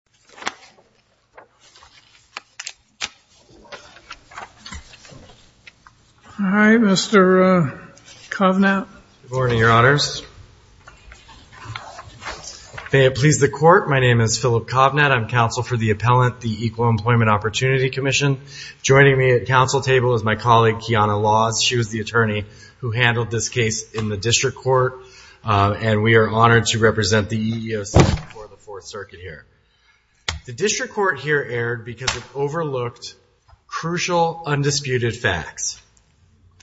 Philip Kovnett, EEOC, District Court Judge Good morning, Your Honors. May it please the Court, my name is Philip Kovnett. I am counsel for the Appellant, the Equal Employment Opportunity Commission. Joining me at the counsel table is my colleague Kiana Laws, she was the attorney who handled this case in the District Court. And we are honored to represent the EEOC for the Fourth Circuit here. The District Court here erred because it overlooked crucial, undisputed facts.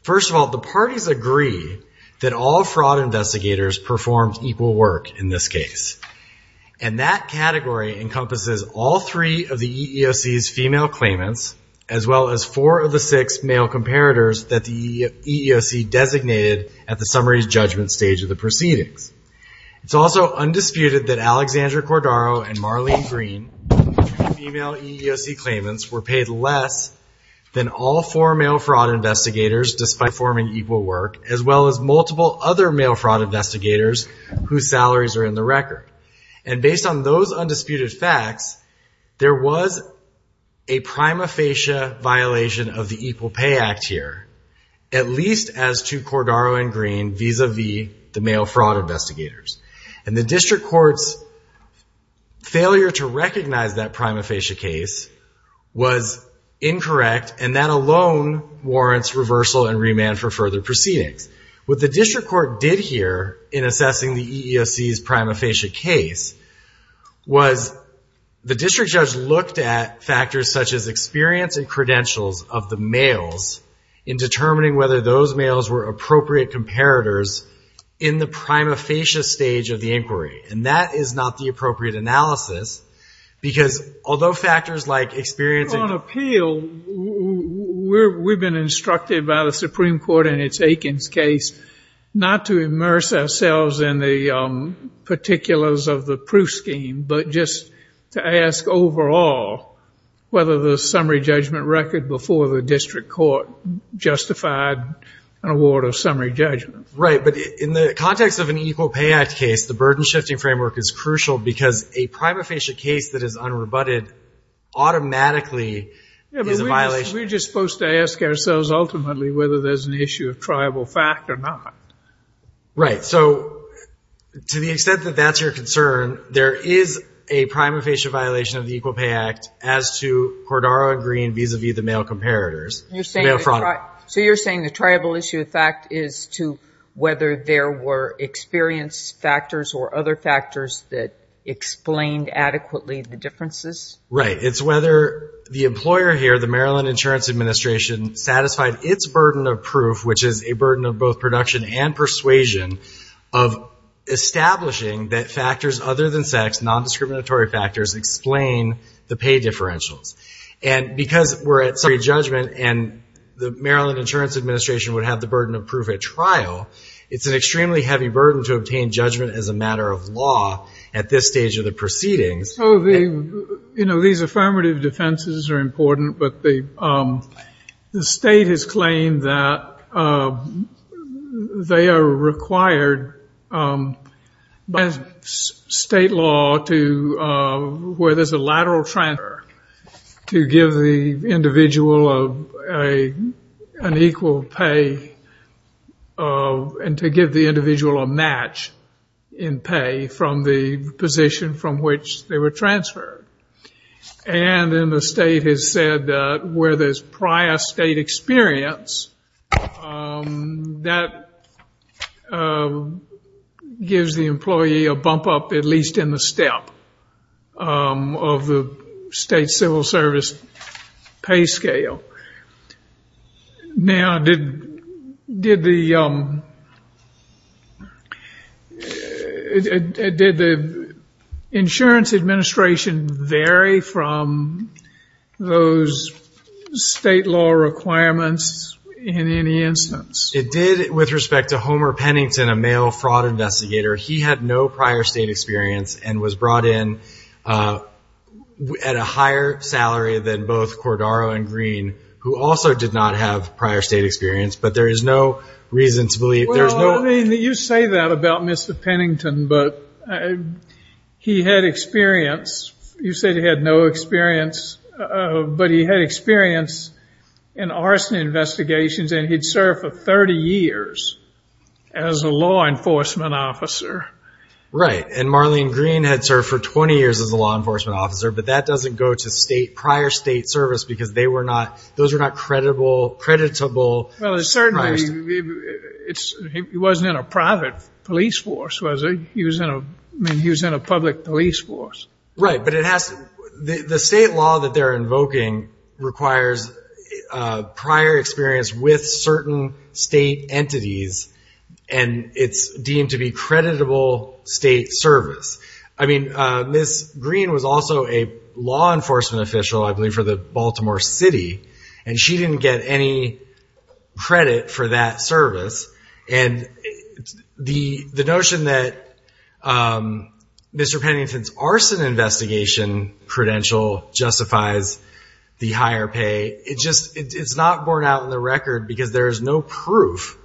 First of all, the parties agree that all fraud investigators performed equal work in this case. And that category encompasses all three of the EEOC's female claimants, as well as four of the six male comparators that the EEOC designated at the summary's judgment stage of the proceedings. It's also undisputed that Alexandra Cordaro and Marlene Green, two female EEOC claimants, were paid less than all four male fraud investigators, despite performing equal work, as well as multiple other male fraud investigators whose salaries are in the record. And based on those undisputed facts, there was a prima facie violation of the Equal Pay Act here, at least as to Cordaro and Green vis-a-vis the male fraud investigators. And the District Court's failure to recognize that prima facie case was incorrect, and that alone warrants reversal and remand for further proceedings. What the District Court did here in assessing the EEOC's was the district judge looked at factors such as experience and credentials of the males in determining whether those males were appropriate comparators in the prima facie stage of the inquiry. And that is not the appropriate analysis, because although factors like experience... On appeal, we've been instructed by the Supreme Court in its Aikens case not to immerse ourselves in the particulars of the proof scheme, but just to ask overall whether the summary judgment record before the District Court justified an award of summary judgment. Right. But in the context of an Equal Pay Act case, the burden-shifting framework is crucial, because a prima facie case that is unrebutted automatically is a violation... We're just supposed to ask ourselves ultimately whether there's an issue of triable fact or not. Right. So to the extent that that's your concern, there is a prima facie violation of the Equal Pay Act as to Cordaro and Green vis-a-vis the male comparators, male fraud. So you're saying the triable issue of fact is to whether there were experience factors or other factors that explained adequately the differences? Right. It's whether the employer here, the Maryland Insurance Administration, satisfied its burden of proof, which is a burden of both production and persuasion, of establishing that factors other than sex, non-discriminatory factors, explain the pay differentials. And because we're at summary judgment and the Maryland Insurance Administration would have the burden of proof at trial, it's an extremely heavy burden to obtain judgment as a matter of law at this stage of the proceedings. So the, you know, these affirmative defenses are important, but the state has claimed that they are required by state law to, where there's a lateral transfer, to give the individual an equal pay and to give the individual a match in pay from the position from which they were transferred. And then the state has said that where there's prior state experience, that gives the employee a bump up, at least in the step of the state civil service pay scale. Now, did the insurance administration vary from those state law requirements in any instance? It did with respect to Homer Pennington, a male who had been at a higher salary than both Cordaro and Green, who also did not have prior state experience, but there is no reason to believe there's no... Well, I mean, you say that about Mr. Pennington, but he had experience. You said he had no experience, but he had experience in arson investigations and he'd served for 30 years as a law enforcement officer. Right. And Marlene Green had served for 20 years as a law enforcement officer, but that doesn't go to state, prior state service, because they were not, those are not creditable, creditable... Well, certainly it's, he wasn't in a private police force, was he? He was in a, I mean, he was in a public police force. Right. But it has to, the state law that they're invoking requires prior experience with certain state entities and it's deemed to be creditable state service. I mean, Ms. Green was also a law enforcement official, I believe for the Baltimore city, and she didn't get any credit for that service. And the notion that Mr. Pennington's the higher pay, it just, it's not borne out in the record because there is no proof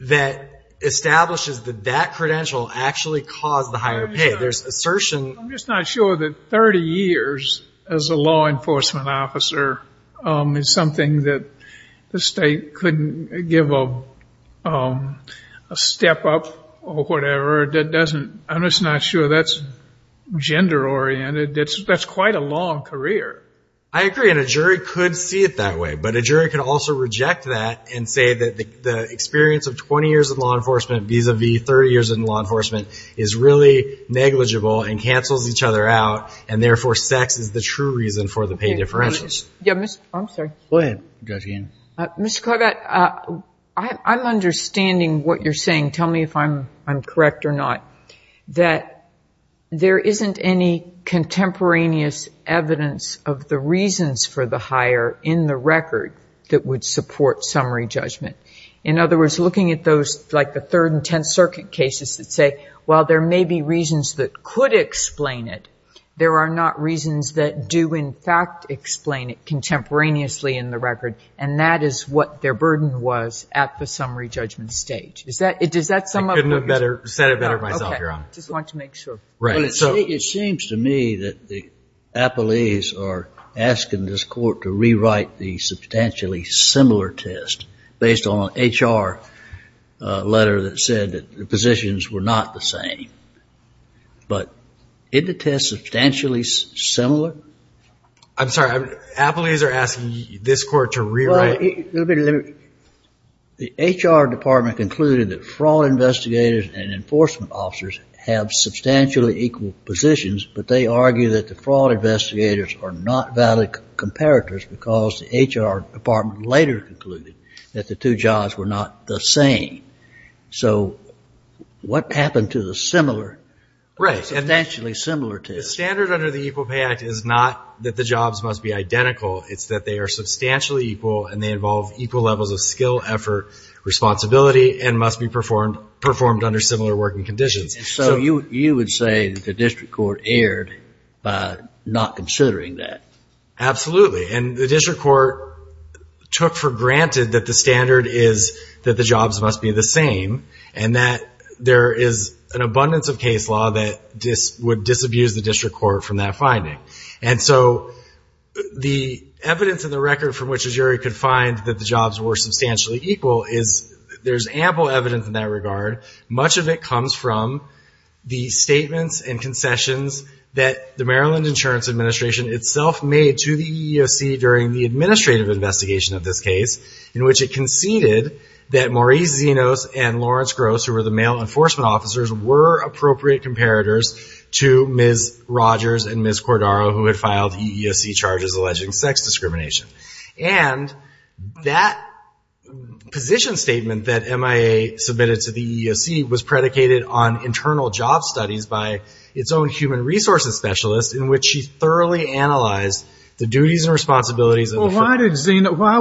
that establishes that that credential actually caused the higher pay. There's assertion... I'm just not sure that 30 years as a law enforcement officer is something that the state couldn't give a step up or whatever. That doesn't, I'm just not sure that's gender-oriented. That's quite a long career. I agree. And a jury could see it that way, but a jury could also reject that and say that the experience of 20 years of law enforcement vis-a-vis 30 years in law enforcement is really negligible and cancels each other out. And therefore, sex is the true reason for the pay differentials. Yeah. I'm sorry. Go ahead. Mr. Corbat, I'm understanding what you're saying. Tell me if I'm correct or not, that there isn't any contemporaneous evidence of the reasons for the higher in the record that would support summary judgment. In other words, looking at those like the third and 10th circuit cases that say, while there may be reasons that could explain it, there are not reasons that do in fact explain it contemporaneously in the record. And that is what their burden was at the summary judgment stage. Is that, does that sum up... I couldn't have said it better myself, Your Honor. Just want to make sure. Right. It seems to me that the appellees are asking this court to rewrite the substantially similar test based on an HR letter that said that the positions were not the same. But isn't the test substantially similar? I'm sorry. Appellees are asking this court to rewrite... Well, let me... The HR department concluded that fraud investigators and enforcement officers have substantially equal positions, but they argue that the fraud investigators are not valid comparators because the HR department later concluded that the two jobs were not the same. So what happened to the similar... Right. ...substantially similar test? The standard under the Equal Pay Act is not that the jobs must be identical. It's that they are substantially equal and they involve equal levels of skill, effort, responsibility, and must be performed under similar working conditions. So you would say that the district court erred by not considering that? Absolutely. And the district court took for granted that the standard is that the jobs must be the same and that there is an abundance of case law that would disabuse the district court from that finding. And so the evidence in the record from which a jury could find that the much of it comes from the statements and concessions that the Maryland Insurance Administration itself made to the EEOC during the administrative investigation of this case, in which it conceded that Maurice Zenos and Lawrence Gross, who were the male enforcement officers, were appropriate comparators to Ms. Rogers and Ms. Cordaro, who had filed EEOC charges alleging sex discrimination. And that position statement that MIA submitted to the EEOC was predicated on internal job studies by its own human resources specialist, in which she thoroughly analyzed the duties and responsibilities... Well, why did Zeno, why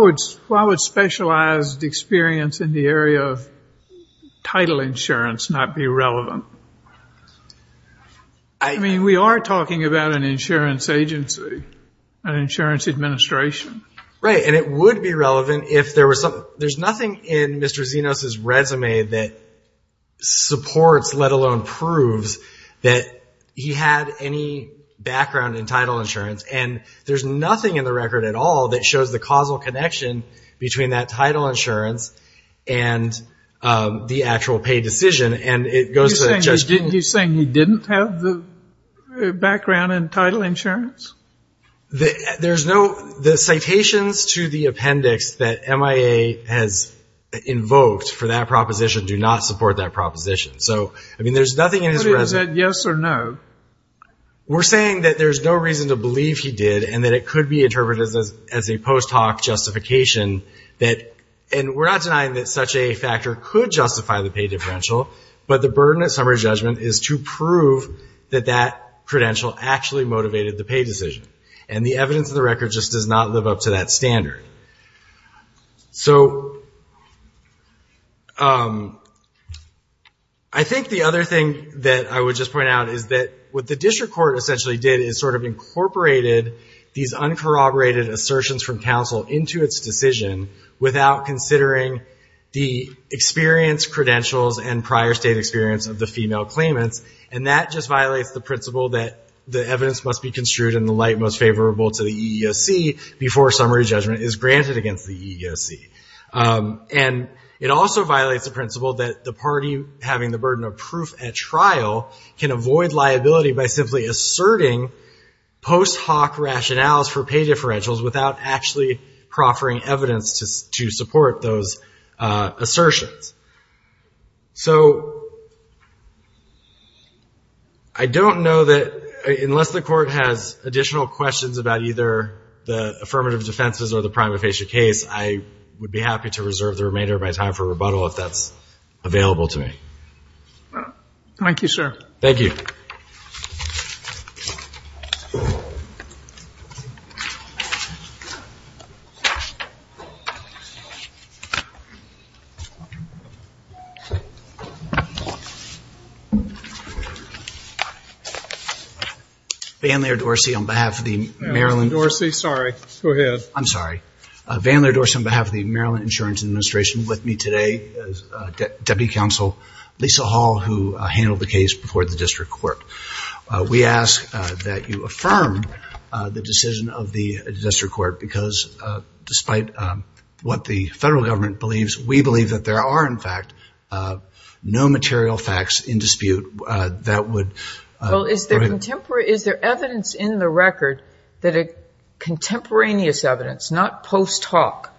would specialized experience in the area of title insurance not be relevant? I mean, we are talking about an insurance administration. Right. And it would be relevant if there was something, there's nothing in Mr. Zenos' resume that supports, let alone proves, that he had any background in title insurance. And there's nothing in the record at all that shows the causal connection between that title insurance and the actual pay decision. And it goes to... You're saying he didn't have the background in title insurance? There's no, the citations to the appendix that MIA has invoked for that proposition do not support that proposition. So, I mean, there's nothing in his resume... But is that yes or no? We're saying that there's no reason to believe he did and that it could be interpreted as a post hoc justification that, and we're not denying that such a factor could justify the pay differential, but the burden of summary judgment is to prove that that credential actually motivated the pay decision. And the evidence of the record just does not live up to that standard. So, I think the other thing that I would just point out is that what the district court essentially did is sort of incorporated these uncorroborated assertions from counsel into its decision without considering the experience credentials and prior state experience of the female claimants. And that just violates the principle that the evidence must be construed in the light most favorable to the EEOC before summary judgment is granted against the EEOC. And it also violates the principle that the party having the burden of proof at trial can avoid liability by simply asserting post hoc rationales for pay differentials without actually proffering evidence to support those assertions. So, I don't know that unless the court has additional questions about either the affirmative defenses or the prima facie case, I would be happy to reserve the remainder of my time for rebuttal if that's available to me. Thank you, sir. Thank you. Van Laird Dorsey on behalf of the Maryland Insurance Administration with me today is Deputy Counsel Lisa Hall who handled the case before the district court. We ask that you affirm the decision of the district court because despite what the federal government believes, we believe that there are in fact no material facts in dispute that would Well, is there evidence in the record that a contemporaneous evidence, not post hoc,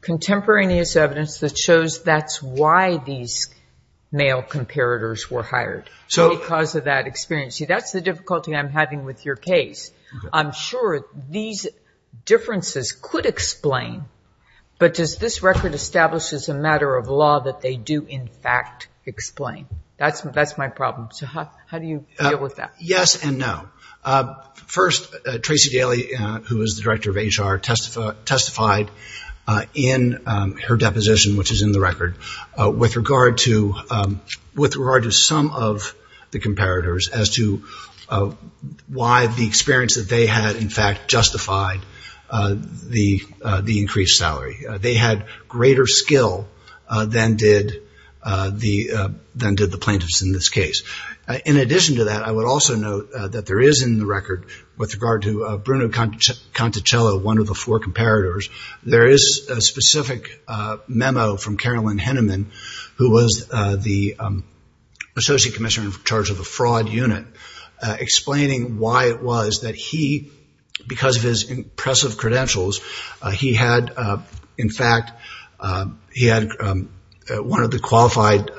contemporaneous evidence that shows that's why these male comparators were hired because of that experience? See, that's the difficulty I'm having with your case. I'm sure these differences could explain, but does this record establish as a matter of law that they do in fact explain? That's my problem. So, how do you deal with that? Yes and no. First, Tracy Daly, who is the Director of HR, testified in her deposition, which is in the record, with regard to some of the comparators as to why the experience that they had in fact justified the increased salary. They had greater skill than did the plaintiffs in this case. In addition to that, I would also note that there is in the record with regard to Bruno Conticello, one of the four comparators, there is a specific memo from Carolyn Henneman, who was the associate commissioner in charge of the fraud unit, explaining why it was that he, because of his impressive credentials, he had in fact, he had one of the qualified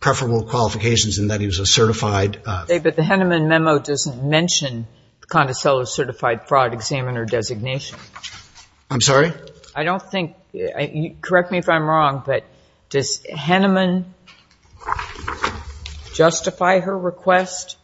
preferable qualifications in that he was a certified... David, the Henneman memo doesn't mention Conticello's certified fraud examiner designation. I'm sorry? I don't think, correct me if I'm wrong, but does Henneman justify her request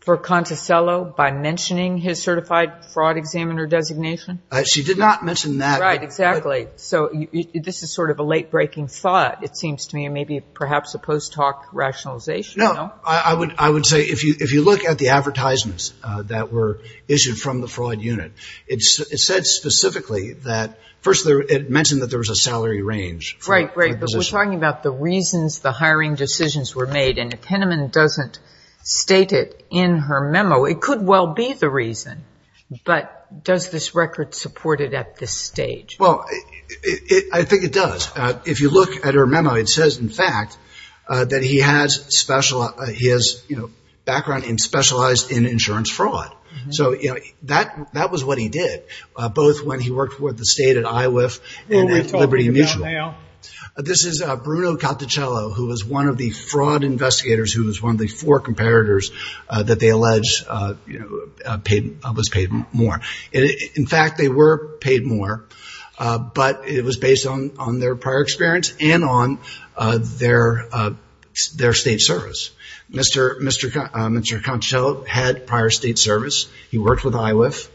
for Conticello by mentioning his certified fraud examiner designation? She did not mention that. Right, exactly. So, this is sort of a late breaking thought, it seems to me, perhaps a post-talk rationalization. No, I would say if you look at the advertisements that were issued from the fraud unit, it said specifically that, first, it mentioned that there was a salary range. Right, right, but we're talking about the reasons the hiring decisions were made, and if Henneman doesn't state it in her memo, it could well be the reason, but does this record support it at this stage? Well, I think it does. If you look at her memo, it says, in fact, that he has background and specialized in insurance fraud. So, that was what he did, both when he worked for the state at IWF and at Liberty Mutual. Who are we talking about now? This is Bruno Conticello, who was one of the fraud investigators, who was one of the four that they allege was paid more. In fact, they were paid more, but it was based on their prior experience and on their state service. Mr. Conticello had prior state service. He worked with IWF.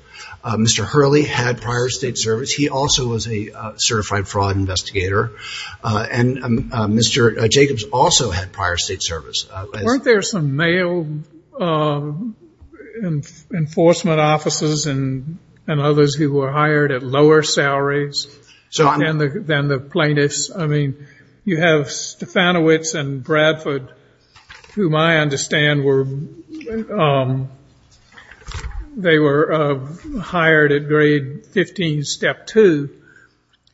Mr. Hurley had prior state service. He also was a certified fraud investigator, and Mr. Jacobs also had prior state service. Weren't there some male enforcement officers and others who were hired at lower salaries than the plaintiffs? I mean, you have Stefanowitz and Bradford, whom I understand were hired at grade 15, step two,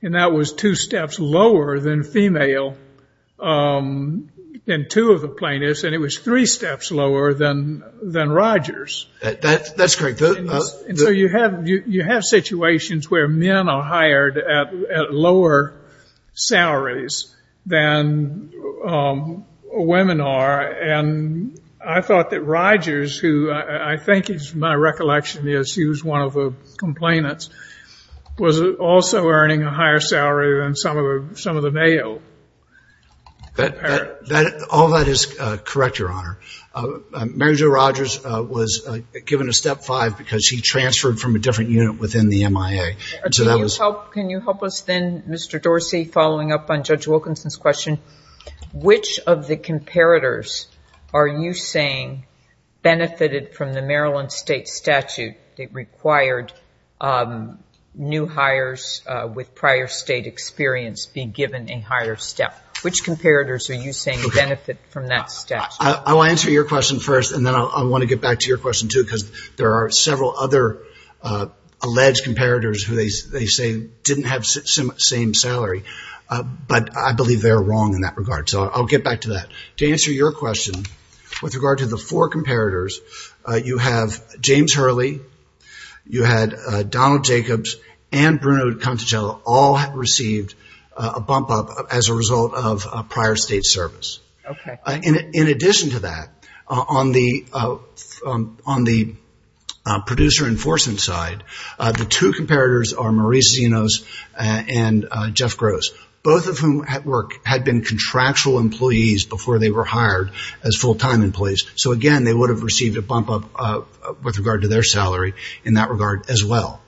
and that was two steps lower than female and two of the plaintiffs, and it was three steps lower than Rogers. That's correct. And so, you have situations where men are hired at lower salaries than women are, and I thought that Rogers, who I think, as my recollection is, he was one of the complainants, was also earning a higher salary than some of the male. All that is correct, Your Honor. Mary Jo Rogers was given a step five because she transferred from a different unit within the MIA. Can you help us then, Mr. Dorsey, following up on Judge Wilkinson's question, which of the comparators are you saying benefited from the Maryland state statute that required new hires with prior state experience be given a higher step? Which comparators are you saying benefit from that statute? I'll answer your question first, and then I want to get back to your question, too, because there are several other alleged comparators who they say didn't have the same salary, but I believe they're wrong in that regard, so I'll get back to that. To answer your question, with regard to the four comparators, you have James Hurley, you had Donald Jacobs, and Bruno Conticello all have received a bump up as a result of prior state service. In addition to that, on the producer enforcement side, the two comparators are Maurice Zenos and Jeff Gross, both of whom at work had been contractual employees before they were hired as full-time employees. So again, they would have received a bump up with regard to their salary in that regard as well.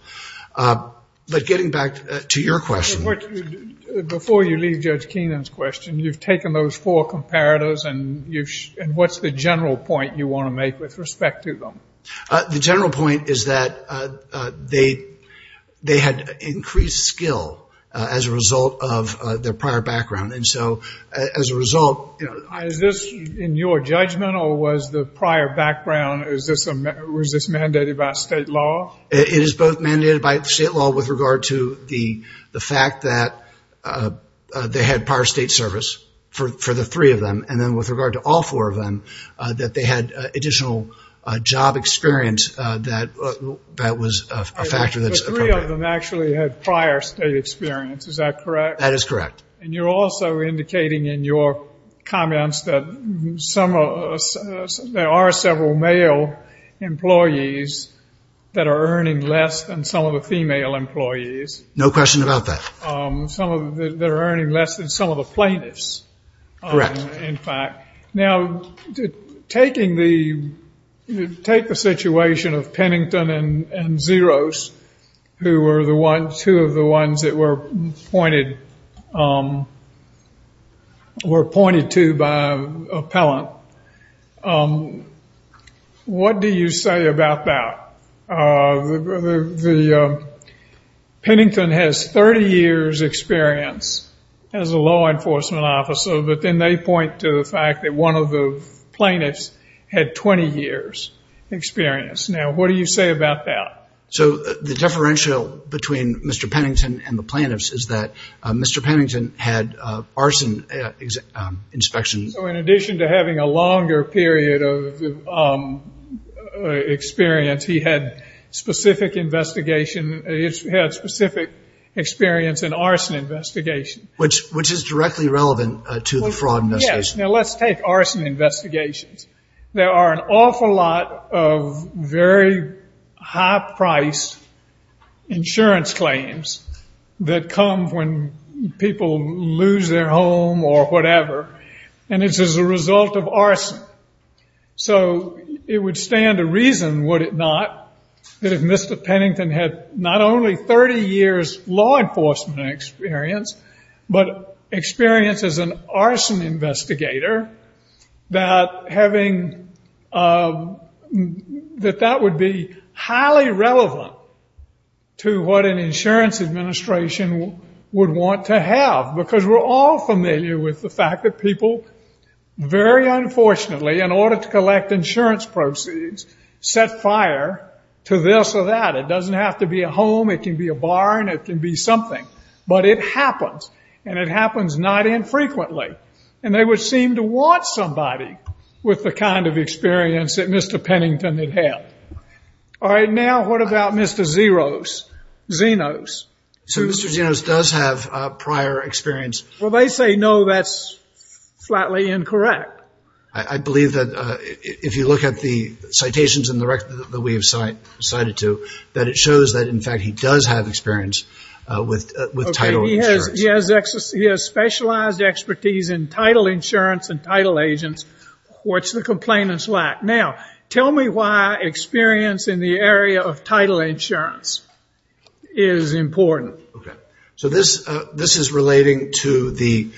But getting back to your question. Before you leave Judge Keenan's question, you've taken those four comparators, and what's the general point you want to make with respect to them? The general point is that they had increased skill as a result of their prior background, and so as a result... Is this in your judgment, or was the prior background, was this mandated by state law? It is both mandated by state law with regard to the fact that they had prior state service for the three of them, and then with regard to all four of them, that they had additional job experience that was a factor that's appropriate. The three of them actually had prior state experience, is that correct? That is correct. And you're also indicating in your comments that there are several male employees that are earning less than some of the female employees. No question about that. Some of them are earning less than some of the plaintiffs. Correct. In fact. Now, take the situation of Pennington and Zeros, who were two of the ones that were pointed to by an appellant. What do you say about that? The Pennington has 30 years experience as a law enforcement officer, but then they point to the fact that one of the plaintiffs had 20 years experience. Now, what do you say about that? So the differential between Mr. Pennington and the plaintiffs is that Mr. Pennington had arson inspection. In addition to having a longer period of experience, he had specific investigation. He had specific experience in arson investigation. Which is directly relevant to the fraud investigation. Now, let's take arson investigations. There are an awful lot of very high price insurance claims that come when people lose their home or whatever. And it's as a result of arson. So it would stand to reason, would it not, that if Mr. Pennington had not only 30 years law enforcement experience, but experience as an arson investigator, that that would be highly relevant to what an insurance administration would want to have. Because we're all familiar with the fact that people, very unfortunately, in order to collect insurance proceeds, set fire to this or that. It doesn't have to be a home, it can be a barn, it can be something. But it happens. And it happens not infrequently. And they would seem to want somebody with the kind of experience that Mr. Pennington had had. All right, now what about Mr. Zenos? Zenos. So Mr. Zenos does have prior experience. Well, they say no, that's flatly incorrect. I believe that if you look at the citations in the record that we have cited to, that it shows that, in fact, he does have experience with title insurance. He has specialized expertise in title insurance and title agents, which the complainants lack. Now, tell me why experience in the area of title insurance? Is important. OK. So this is relating to the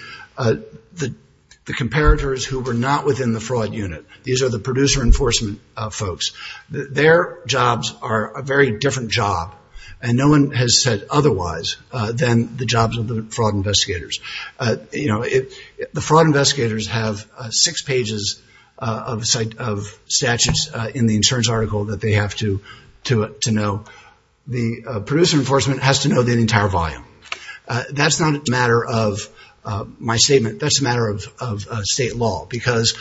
comparators who were not within the fraud unit. These are the producer enforcement folks. Their jobs are a very different job, and no one has said otherwise, than the jobs of the fraud investigators. The fraud investigators have six pages of statutes in the insurance article that they have to know. The producer enforcement has to know the entire volume. That's not a matter of my statement. That's a matter of state law. Because,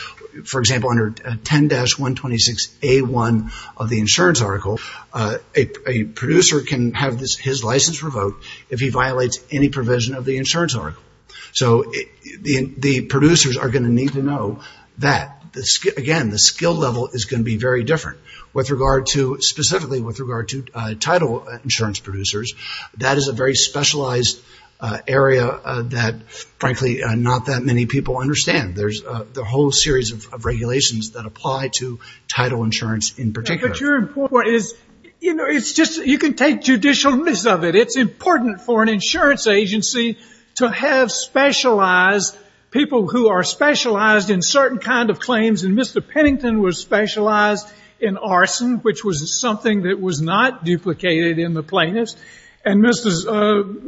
for example, under 10-126A1 of the insurance article, a producer can have his license revoked if he violates any provision of the insurance article. So the producers are going to need to know that. Again, the skill level is going to be very different. With regard to, specifically with regard to title insurance producers, that is a very specialized area that, frankly, not that many people understand. There's a whole series of regulations that apply to title insurance in particular. But your point is, you know, it's just, you can take judicial miss of it. It's important for an insurance agency to have specialized, people who are specialized in certain kind of claims. And Mr. Pennington was specialized in arson, which was something that was not duplicated in the plaintiffs. And Mrs.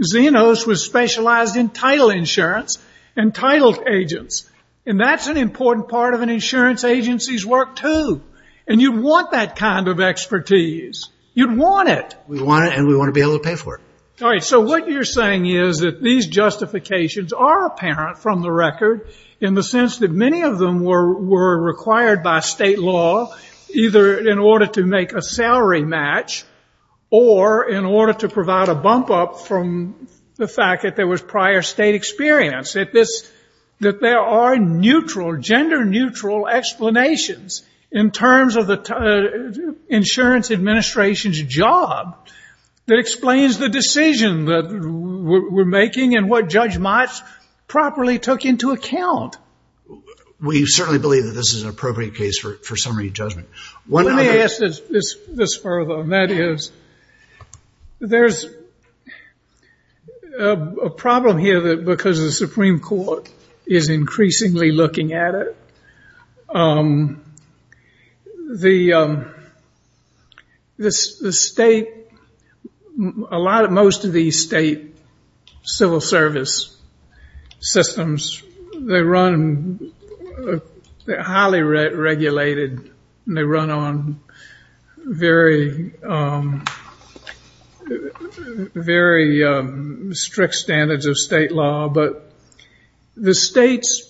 Zenos was specialized in title insurance and title agents. And that's an important part of an insurance agency's work, too. And you'd want that kind of expertise. You'd want it. We want it, and we want to be able to pay for it. All right. So what you're saying is that these justifications are apparent from the record in the sense that many of them were required by state law, either in order to make a salary match or in order to provide a bump up from the fact that there was prior state experience. That this, that there are neutral, gender neutral explanations in terms of the insurance administration's job that explains the decision that we're making and what Judge Mott properly took into account. We certainly believe that this is an appropriate case for summary judgment. Let me ask this further. That is, there's a problem here that because the Supreme Court is increasingly looking at it, the state, a lot of, most of these state civil service systems, they run, they're highly regulated, and they run on very strict standards of state law. But the states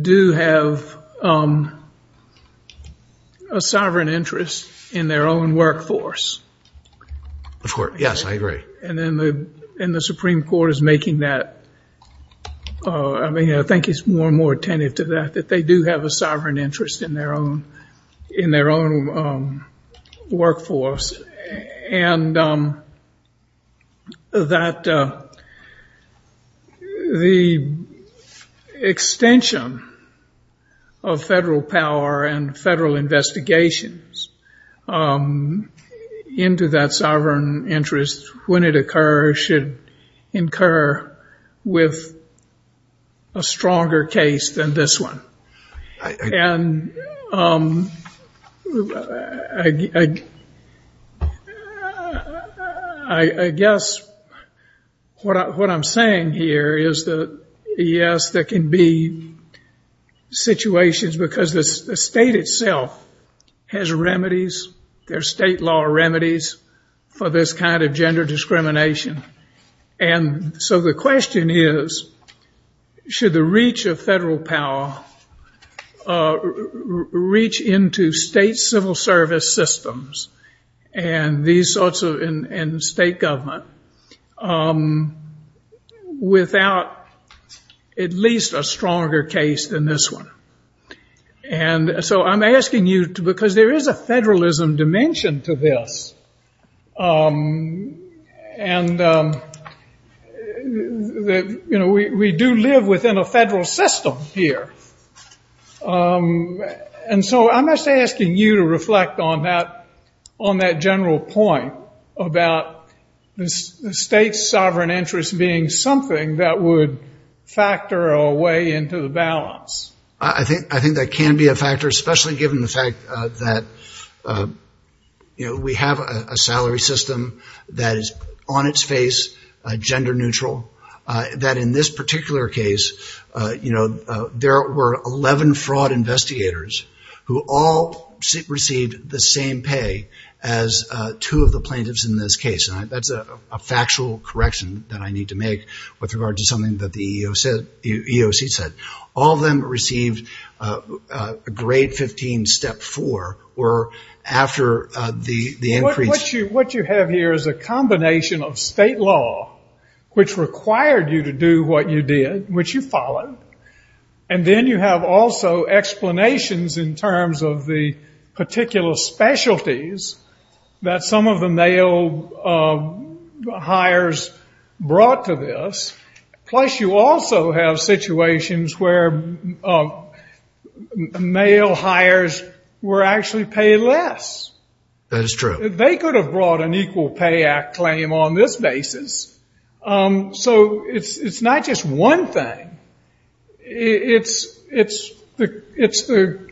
do have a sovereign interest in their own workforce. Of course. Yes, I agree. And then the Supreme Court is making that, I mean, I think it's more and more attentive to that, that they do have a sovereign interest in their own, in their own workforce. And that the extension of federal power and federal investigations into that sovereign interest, when it occurs, should incur with a stronger case than this one. And I guess what I'm saying here is that, yes, there can be situations because the state itself has remedies, there's state law remedies for this kind of gender discrimination. And so the question is, should the reach of federal power reach into state civil service systems and these sorts of, and state government without at least a stronger case than this one? And so I'm asking you to, because there is a federalism dimension to this. And we do live within a federal system here. And so I'm just asking you to reflect on that general point about the state's sovereign interest being something that would factor a way into the balance. I think that can be a factor, especially given the fact that we have a salary system that is on its face, gender neutral, that in this particular case, there were 11 fraud investigators who all received the same pay as two of the plaintiffs in this case. That's a factual correction that I need to make with regard to something that the EEOC said. All of them received grade 15, step four, or after the increase. What you have here is a combination of state law, which required you to do what you did, which you followed. And then you have also explanations in terms of the particular specialties that some of the male hires brought to this. Plus, you also have situations where male hires were actually paid less. That is true. They could have brought an Equal Pay Act claim on this basis. So it's not just one thing. It's the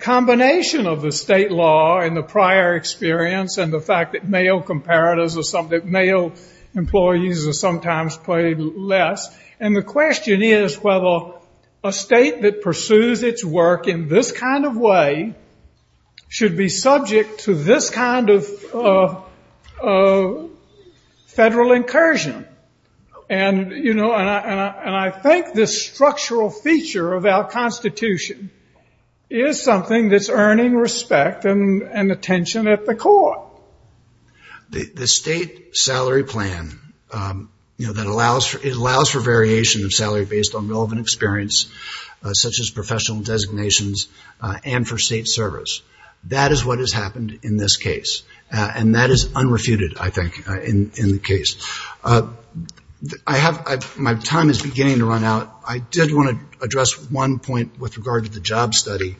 combination of the state law and the prior experience and the fact that male comparatives, that male employees are sometimes paid less. And the question is whether a state that pursues its work in this kind of way should be subject to this kind of federal incursion. And I think this structural feature of our Constitution is something that's earning respect and attention at the court. The state salary plan, it allows for variation of salary based on relevant experience, such as professional designations and for state service. That is what has happened in this case. And that is unrefuted, I think, in the case. I have, my time is beginning to run out. I did want to address one point with regard to the JOBS study.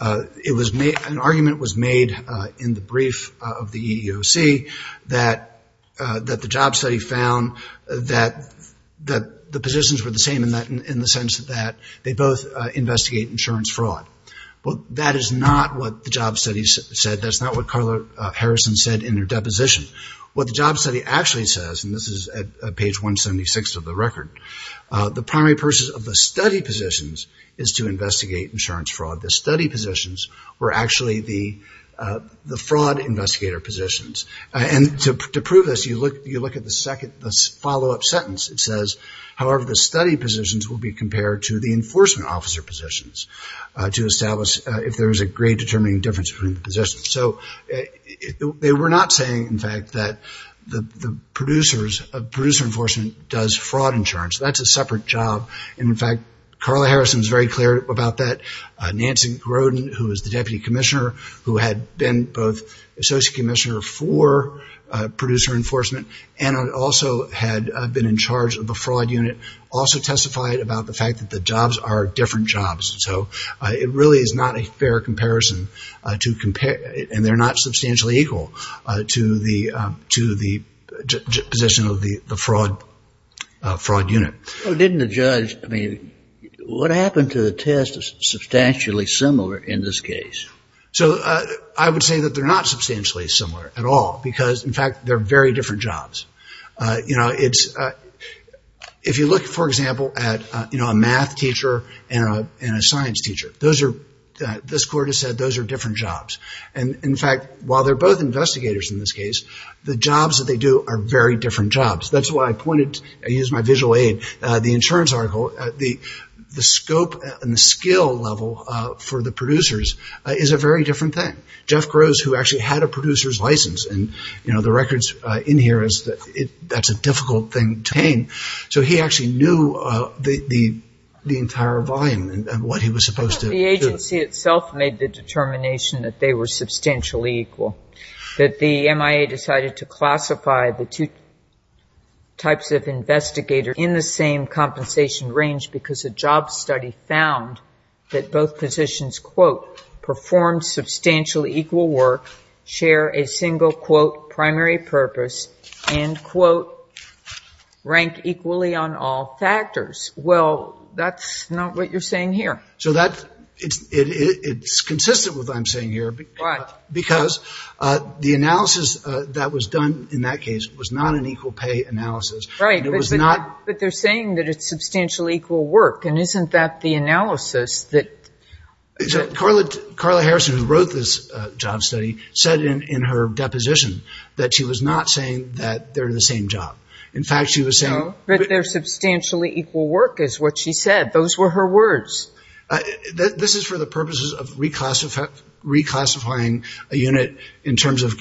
An argument was made in the brief of the EEOC that the JOBS study found that the positions were the same in the sense that they both investigate insurance fraud. But that is not what the JOBS study said. That's not what Carla Harrison said in her deposition. What the JOBS study actually says, and this is at page 176 of the record, the primary purpose of the study positions is to investigate insurance fraud. The study positions were actually the fraud investigator positions. And to prove this, you look at the second, the follow-up sentence. It says, however, the study positions will be compared to the enforcement officer positions to establish if there is a great determining difference between the positions. So, they were not saying, in fact, that the producers of producer enforcement does fraud insurance. That's a separate job. And in fact, Carla Harrison is very clear about that. Nancy Grodin, who is the deputy commissioner, who had been both associate commissioner for producer enforcement, and also had been in charge of the fraud unit, also testified about the fact that the jobs are different jobs. So, it really is not a fair comparison. And they're not substantially equal to the position of the fraud unit. Well, didn't the judge, I mean, what happened to the test is substantially similar in this case? So, I would say that they're not substantially similar at all. Because, in fact, they're very different jobs. You know, it's, if you look, for example, at, you know, a math teacher and a science teacher, those are, this court has said, those are different jobs. And in fact, while they're both investigators in this case, the jobs that they do are very different jobs. That's why I pointed, I used my visual aid, the insurance article, the scope and the skill level for the producers is a very different thing. Jeff Gross, who actually had a producer's license, and, you know, the records in here is that it, that's a difficult thing to obtain. So, he actually knew the entire volume and what he was supposed to do. The agency itself made the determination that they were substantially equal. That the MIA decided to classify the two types of investigator in the same compensation range, because a job study found that both positions, quote, performed substantially equal work, share a single, quote, primary purpose, end quote, rank equally on all factors. Well, that's not what you're saying here. So, that, it's consistent with what I'm saying here. Why? Because the analysis that was done in that case was not an equal pay analysis. Right. It was not. But they're saying that it's substantially equal work. And isn't that the analysis that? Carla, Carla Harrison, who wrote this job study, said in her deposition that she was not saying that they're the same job. In fact, she was saying. No, but they're substantially equal work is what she said. Those were her words. This is for the purposes of reclassifying a unit in terms of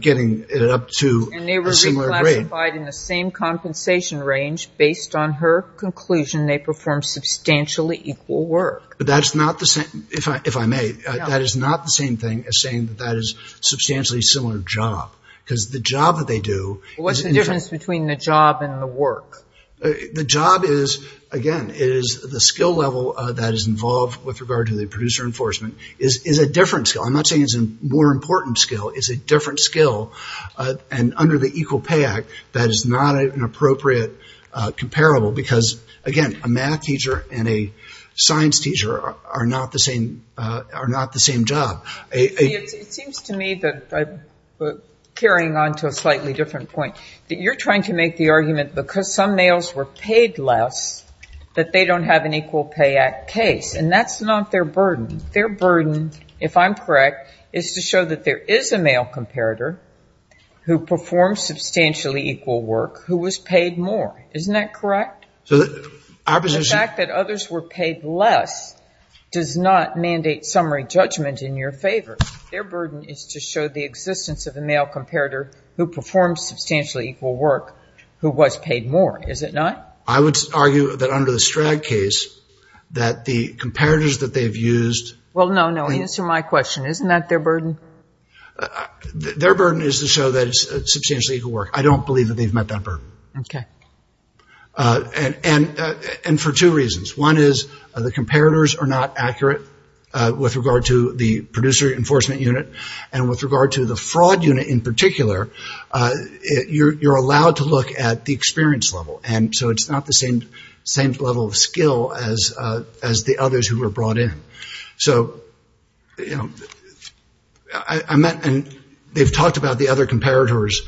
getting it up to a similar grade. In the same compensation range, based on her conclusion, they performed substantially equal work. But that's not the same, if I may. That is not the same thing as saying that that is substantially similar job. Because the job that they do. What's the difference between the job and the work? The job is, again, it is the skill level that is involved with regard to the producer enforcement is a different skill. I'm not saying it's a more important skill. It's a different skill. And under the Equal Pay Act, that is not an appropriate comparable. Because, again, a math teacher and a science teacher are not the same job. It seems to me that I'm carrying on to a slightly different point. You're trying to make the argument, because some males were paid less, that they don't have an Equal Pay Act case. And that's not their burden. Their burden, if I'm correct, is to show that there is a male comparator. Who performs substantially equal work, who was paid more. Isn't that correct? So the fact that others were paid less does not mandate summary judgment in your favor. Their burden is to show the existence of a male comparator who performs substantially equal work, who was paid more. Is it not? I would argue that under the Stragg case, that the comparators that they've used. Well, no, no. Answer my question. Isn't that their burden? Their burden is to show that it's substantially equal work. I don't believe that they've met that burden. Okay. And for two reasons. One is the comparators are not accurate with regard to the producer enforcement unit. And with regard to the fraud unit in particular, you're allowed to look at the experience level. And so it's not the same level of skill as the others who were brought in. So they've talked about the other comparators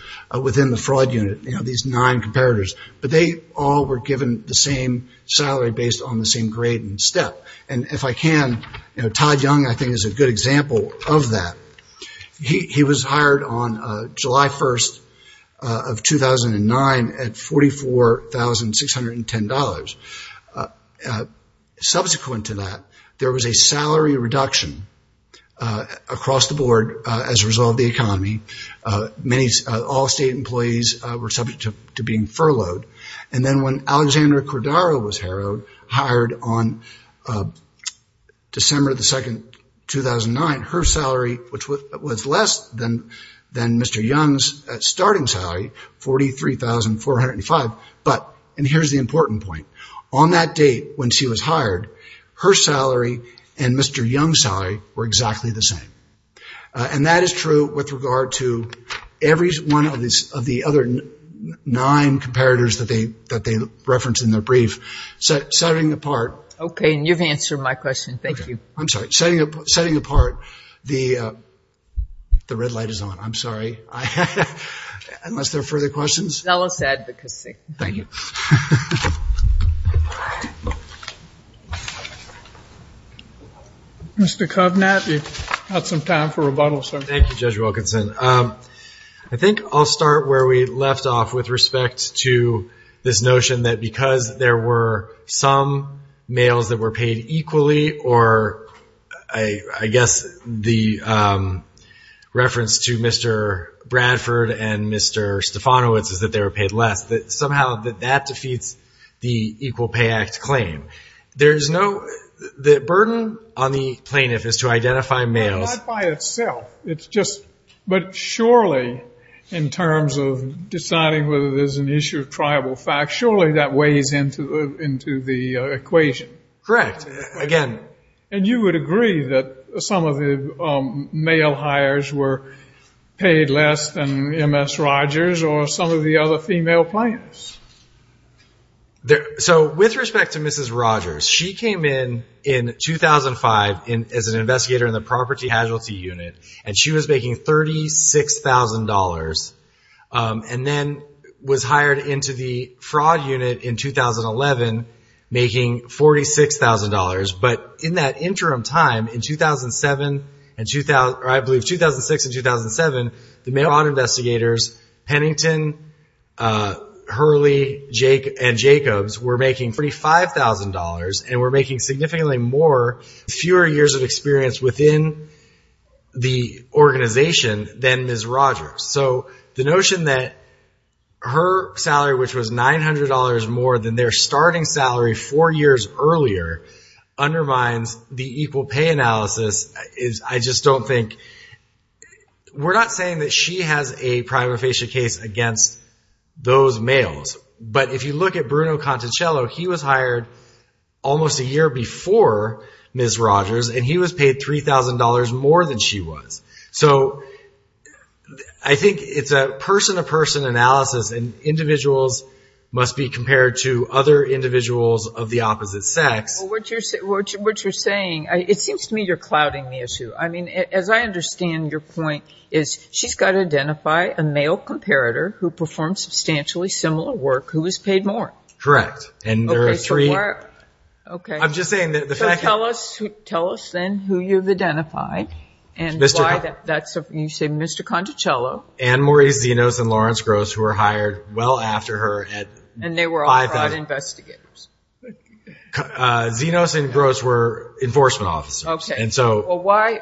within the fraud unit. These nine comparators. But they all were given the same salary based on the same grade and step. And if I can, Todd Young I think is a good example of that. He was hired on July 1st of 2009 at $44,610. Subsequent to that, there was a salary reduction across the board as a result of the economy. All state employees were subject to being furloughed. And then when Alexandra Cordaro was hired on December 2nd, 2009, her salary, which was less than Mr. Young's starting salary, $43,405. And here's the important point. On that date when she was hired, her salary and Mr. Young's salary were exactly the same. And that is true with regard to every one of the other nine comparators that they referenced in their brief. Setting apart. Okay. And you've answered my question. Thank you. I'm sorry. Setting apart. The red light is on. I'm sorry. Unless there are further questions. Zello said, because see. Thank you. Mr. Kovnath, you've got some time for rebuttal, sir. Thank you, Judge Wilkinson. I think I'll start where we left off with respect to this notion that because there were some males that were paid equally, or I guess the reference to Mr. Bradford and Mr. Stefanowicz is that they were paid less, that somehow that defeats the Equal Pay Act claim. There's no, the burden on the plaintiff is to identify males. No, not by itself. It's just, but surely in terms of deciding whether there's an issue of tribal facts, surely that weighs into the equation. Correct. Again. And you would agree that some of the male hires were paid less than M.S. Rogers, or some of the other female plaintiffs? So with respect to Mrs. Rogers, she came in in 2005 as an investigator in the Property Hazulty Unit, and she was making $36,000, and then was hired into the Fraud Unit in 2011, making $46,000. But in that interim time, in 2007, or I believe 2006 and 2007, the male Harrington, Hurley, and Jacobs were making $35,000, and were making significantly more, fewer years of experience within the organization than Ms. Rogers. So the notion that her salary, which was $900 more than their starting salary four years earlier, undermines the equal pay analysis is, I just don't think, we're not saying that she has a prima facie case against those males. But if you look at Bruno Conticello, he was hired almost a year before Ms. Rogers, and he was paid $3,000 more than she was. So I think it's a person-to-person analysis, and individuals must be compared to other individuals of the opposite sex. Well, what you're saying, it seems to me you're clouding the issue. As I understand your point, is she's got to identify a male comparator who performed substantially similar work, who was paid more. Correct. And there are three... Okay, so why... Okay. I'm just saying that the fact that... So tell us then who you've identified, and why that's... You say Mr. Conticello. And Maurice Zenos and Lawrence Gross, who were hired well after her at $5,000. And they were all fraud investigators. Zenos and Gross were enforcement officers. Okay. And so... Why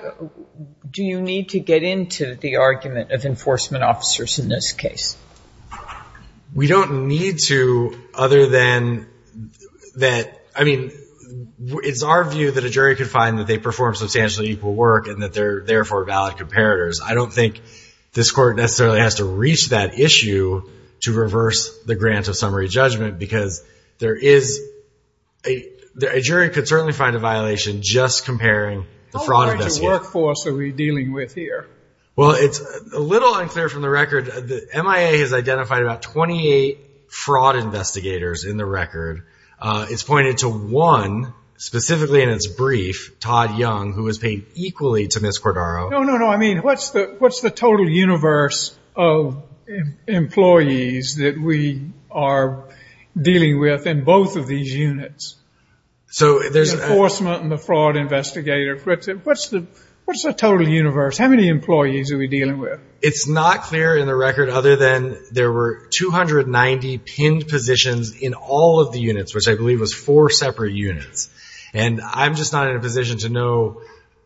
do you need to get into the argument of enforcement officers in this case? We don't need to, other than that... I mean, it's our view that a jury could find that they perform substantially equal work, and that they're therefore valid comparators. I don't think this court necessarily has to reach that issue to reverse the grant of summary judgment, because a jury could certainly find a violation just comparing the fraud investigators. How large a workforce are we dealing with here? Well, it's a little unclear from the record. MIA has identified about 28 fraud investigators in the record. It's pointed to one, specifically in its brief, Todd Young, who was paid equally to Ms. Cordaro. No, no, no. I mean, what's the total universe of employees that we are dealing with in both of these units? So there's... The enforcement and the fraud investigator. What's the total universe? How many employees are we dealing with? It's not clear in the record, other than there were 290 pinned positions in all of the units, which I believe was four separate units. And I'm just not in a position to know.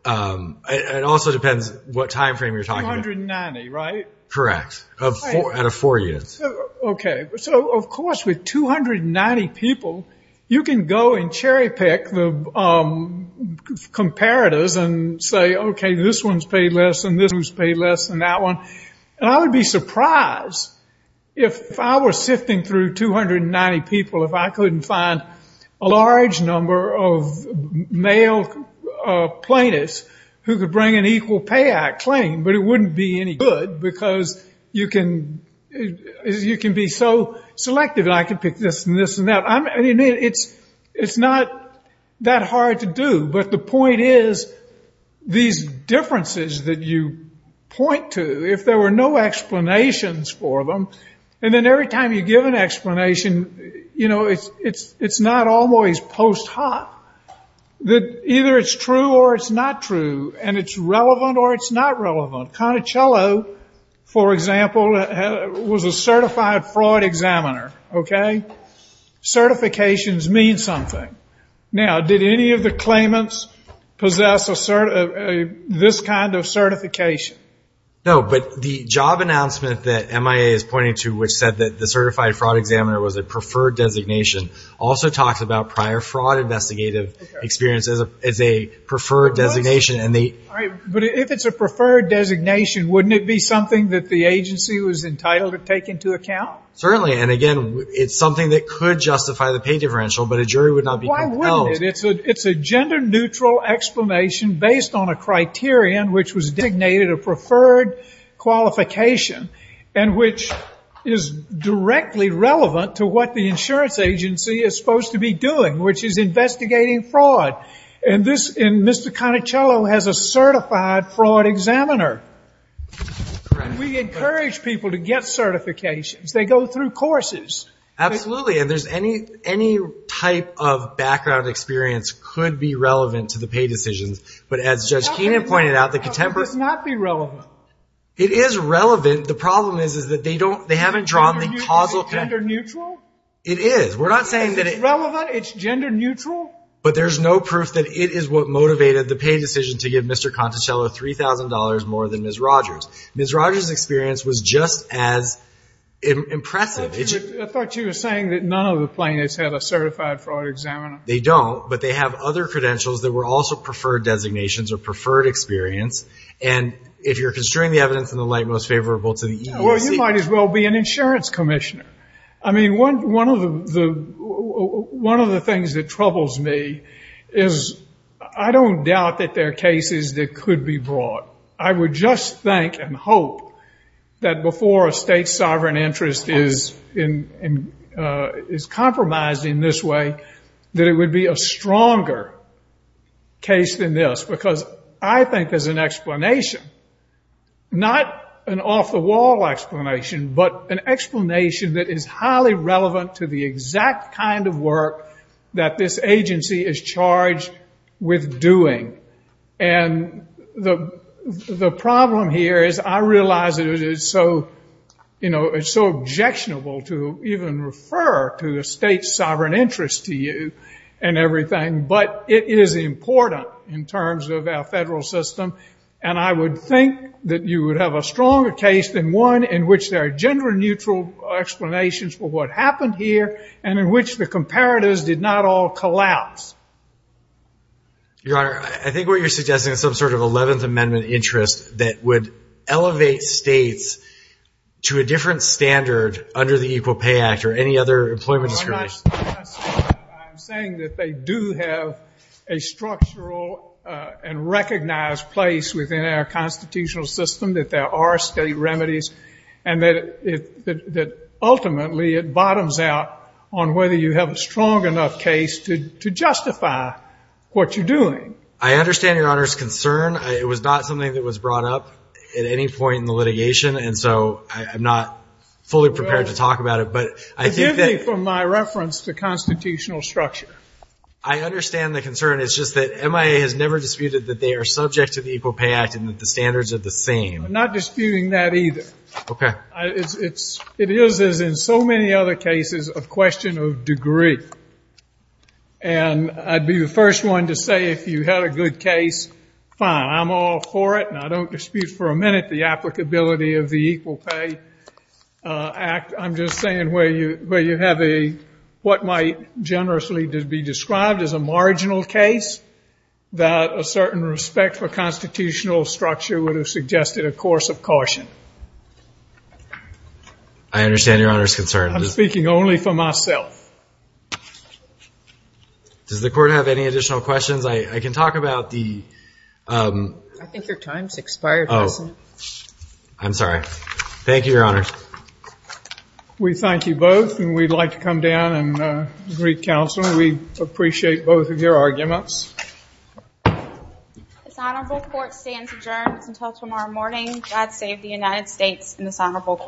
It also depends what time frame you're talking about. 290, right? Correct, out of four units. Okay. So of course, with 290 people, you can go and cherry pick the comparators and say, okay, this one's paid less and this one's paid less than that one. And I would be surprised if I were sifting through 290 people, if I couldn't find a large number of male plaintiffs who could bring an Equal Pay Act claim, but it wouldn't be any good because you can be so selective. I could pick this and this and that. I mean, it's not that hard to do, but the point is, these differences that you point to, if there were no explanations for them, and then every time you give an explanation, it's not always post-hot, that either it's true or it's not true, and it's relevant or it's not relevant. Conicello, for example, was a certified Freud examiner, okay? Certifications mean something. Now, did any of the claimants possess this kind of certification? No, but the job announcement that MIA is pointing to, which said that the certified fraud examiner was a preferred designation, also talks about prior fraud investigative experiences as a preferred designation. But if it's a preferred designation, wouldn't it be something that the agency was entitled to take into account? Certainly, and again, it's something that could justify the pay differential, but a jury would not be compelled. Why wouldn't it? It's a gender-neutral explanation based on a criterion which was designated a preferred qualification, and which is directly relevant to what the insurance agency is supposed to be doing, which is investigating fraud. Mr. Conicello has a certified fraud examiner. We encourage people to get certifications. They go through courses. Absolutely, and any type of background experience could be relevant to the pay decisions, but as Judge Keenan pointed out, the contemporary... It does not be relevant. It is relevant. The problem is that they haven't drawn the causal... Is it gender-neutral? It is. We're not saying that it... Is it relevant? It's gender-neutral? But there's no proof that it is what motivated the pay decision to give Mr. Conicello $3,000 more than Ms. Rogers. Ms. Rogers' experience was just as impressive. I thought you were saying that none of the plaintiffs had a certified fraud examiner. They don't, but they have other credentials that were also preferred designations or preferred experience. And if you're considering the evidence in the light most favorable to the EEOC... Well, you might as well be an insurance commissioner. I mean, one of the things that troubles me is I don't doubt that there are cases that could be brought. I would just think and hope that before a state sovereign interest is compromised in this way, that it would be a stronger case than this. Because I think there's an explanation, not an off-the-wall explanation, but an explanation that is highly relevant to the exact kind of work that this agency is charged with doing. And the problem here is I realize that it is so objectionable to even refer to a state sovereign interest to you and everything, but it is important in terms of our federal system. And I would think that you would have a stronger case than one in which there are gender-neutral explanations for what happened here and in which the comparatives did not all collapse. Your Honor, I think what you're suggesting is some sort of 11th Amendment interest that would elevate states to a different standard under the Equal Pay Act or any other employment insurance. I'm not saying that. I'm saying that they do have a structural and recognized place within our constitutional system, that there are state remedies, and that ultimately it bottoms out on whether you have a strong enough case to justify what you're doing. I understand Your Honor's concern. It was not something that was brought up at any point in the litigation, and so I'm not fully prepared to talk about it. Forgive me for my reference to constitutional structure. I understand the concern. It's just that MIA has never disputed that they are subject to the Equal Pay Act and that the standards are the same. I'm not disputing that either. Okay. It is, as in so many other cases, a question of degree. And I'd be the first one to say if you had a good case, fine, I'm all for it, and I don't dispute for a minute the applicability of the Equal Pay Act. I'm just saying where you have a, what might generously be described as a marginal case, that a certain respect for constitutional structure would have suggested a course of caution. I understand Your Honor's concern. I'm speaking only for myself. Does the Court have any additional questions? I can talk about the... I think your time's expired. Oh. I'm sorry. Thank you, Your Honor. We thank you both, and we'd like to come down and greet counsel. We appreciate both of your arguments. This Honorable Court stands adjourned until tomorrow morning. God save the United States and this Honorable Court.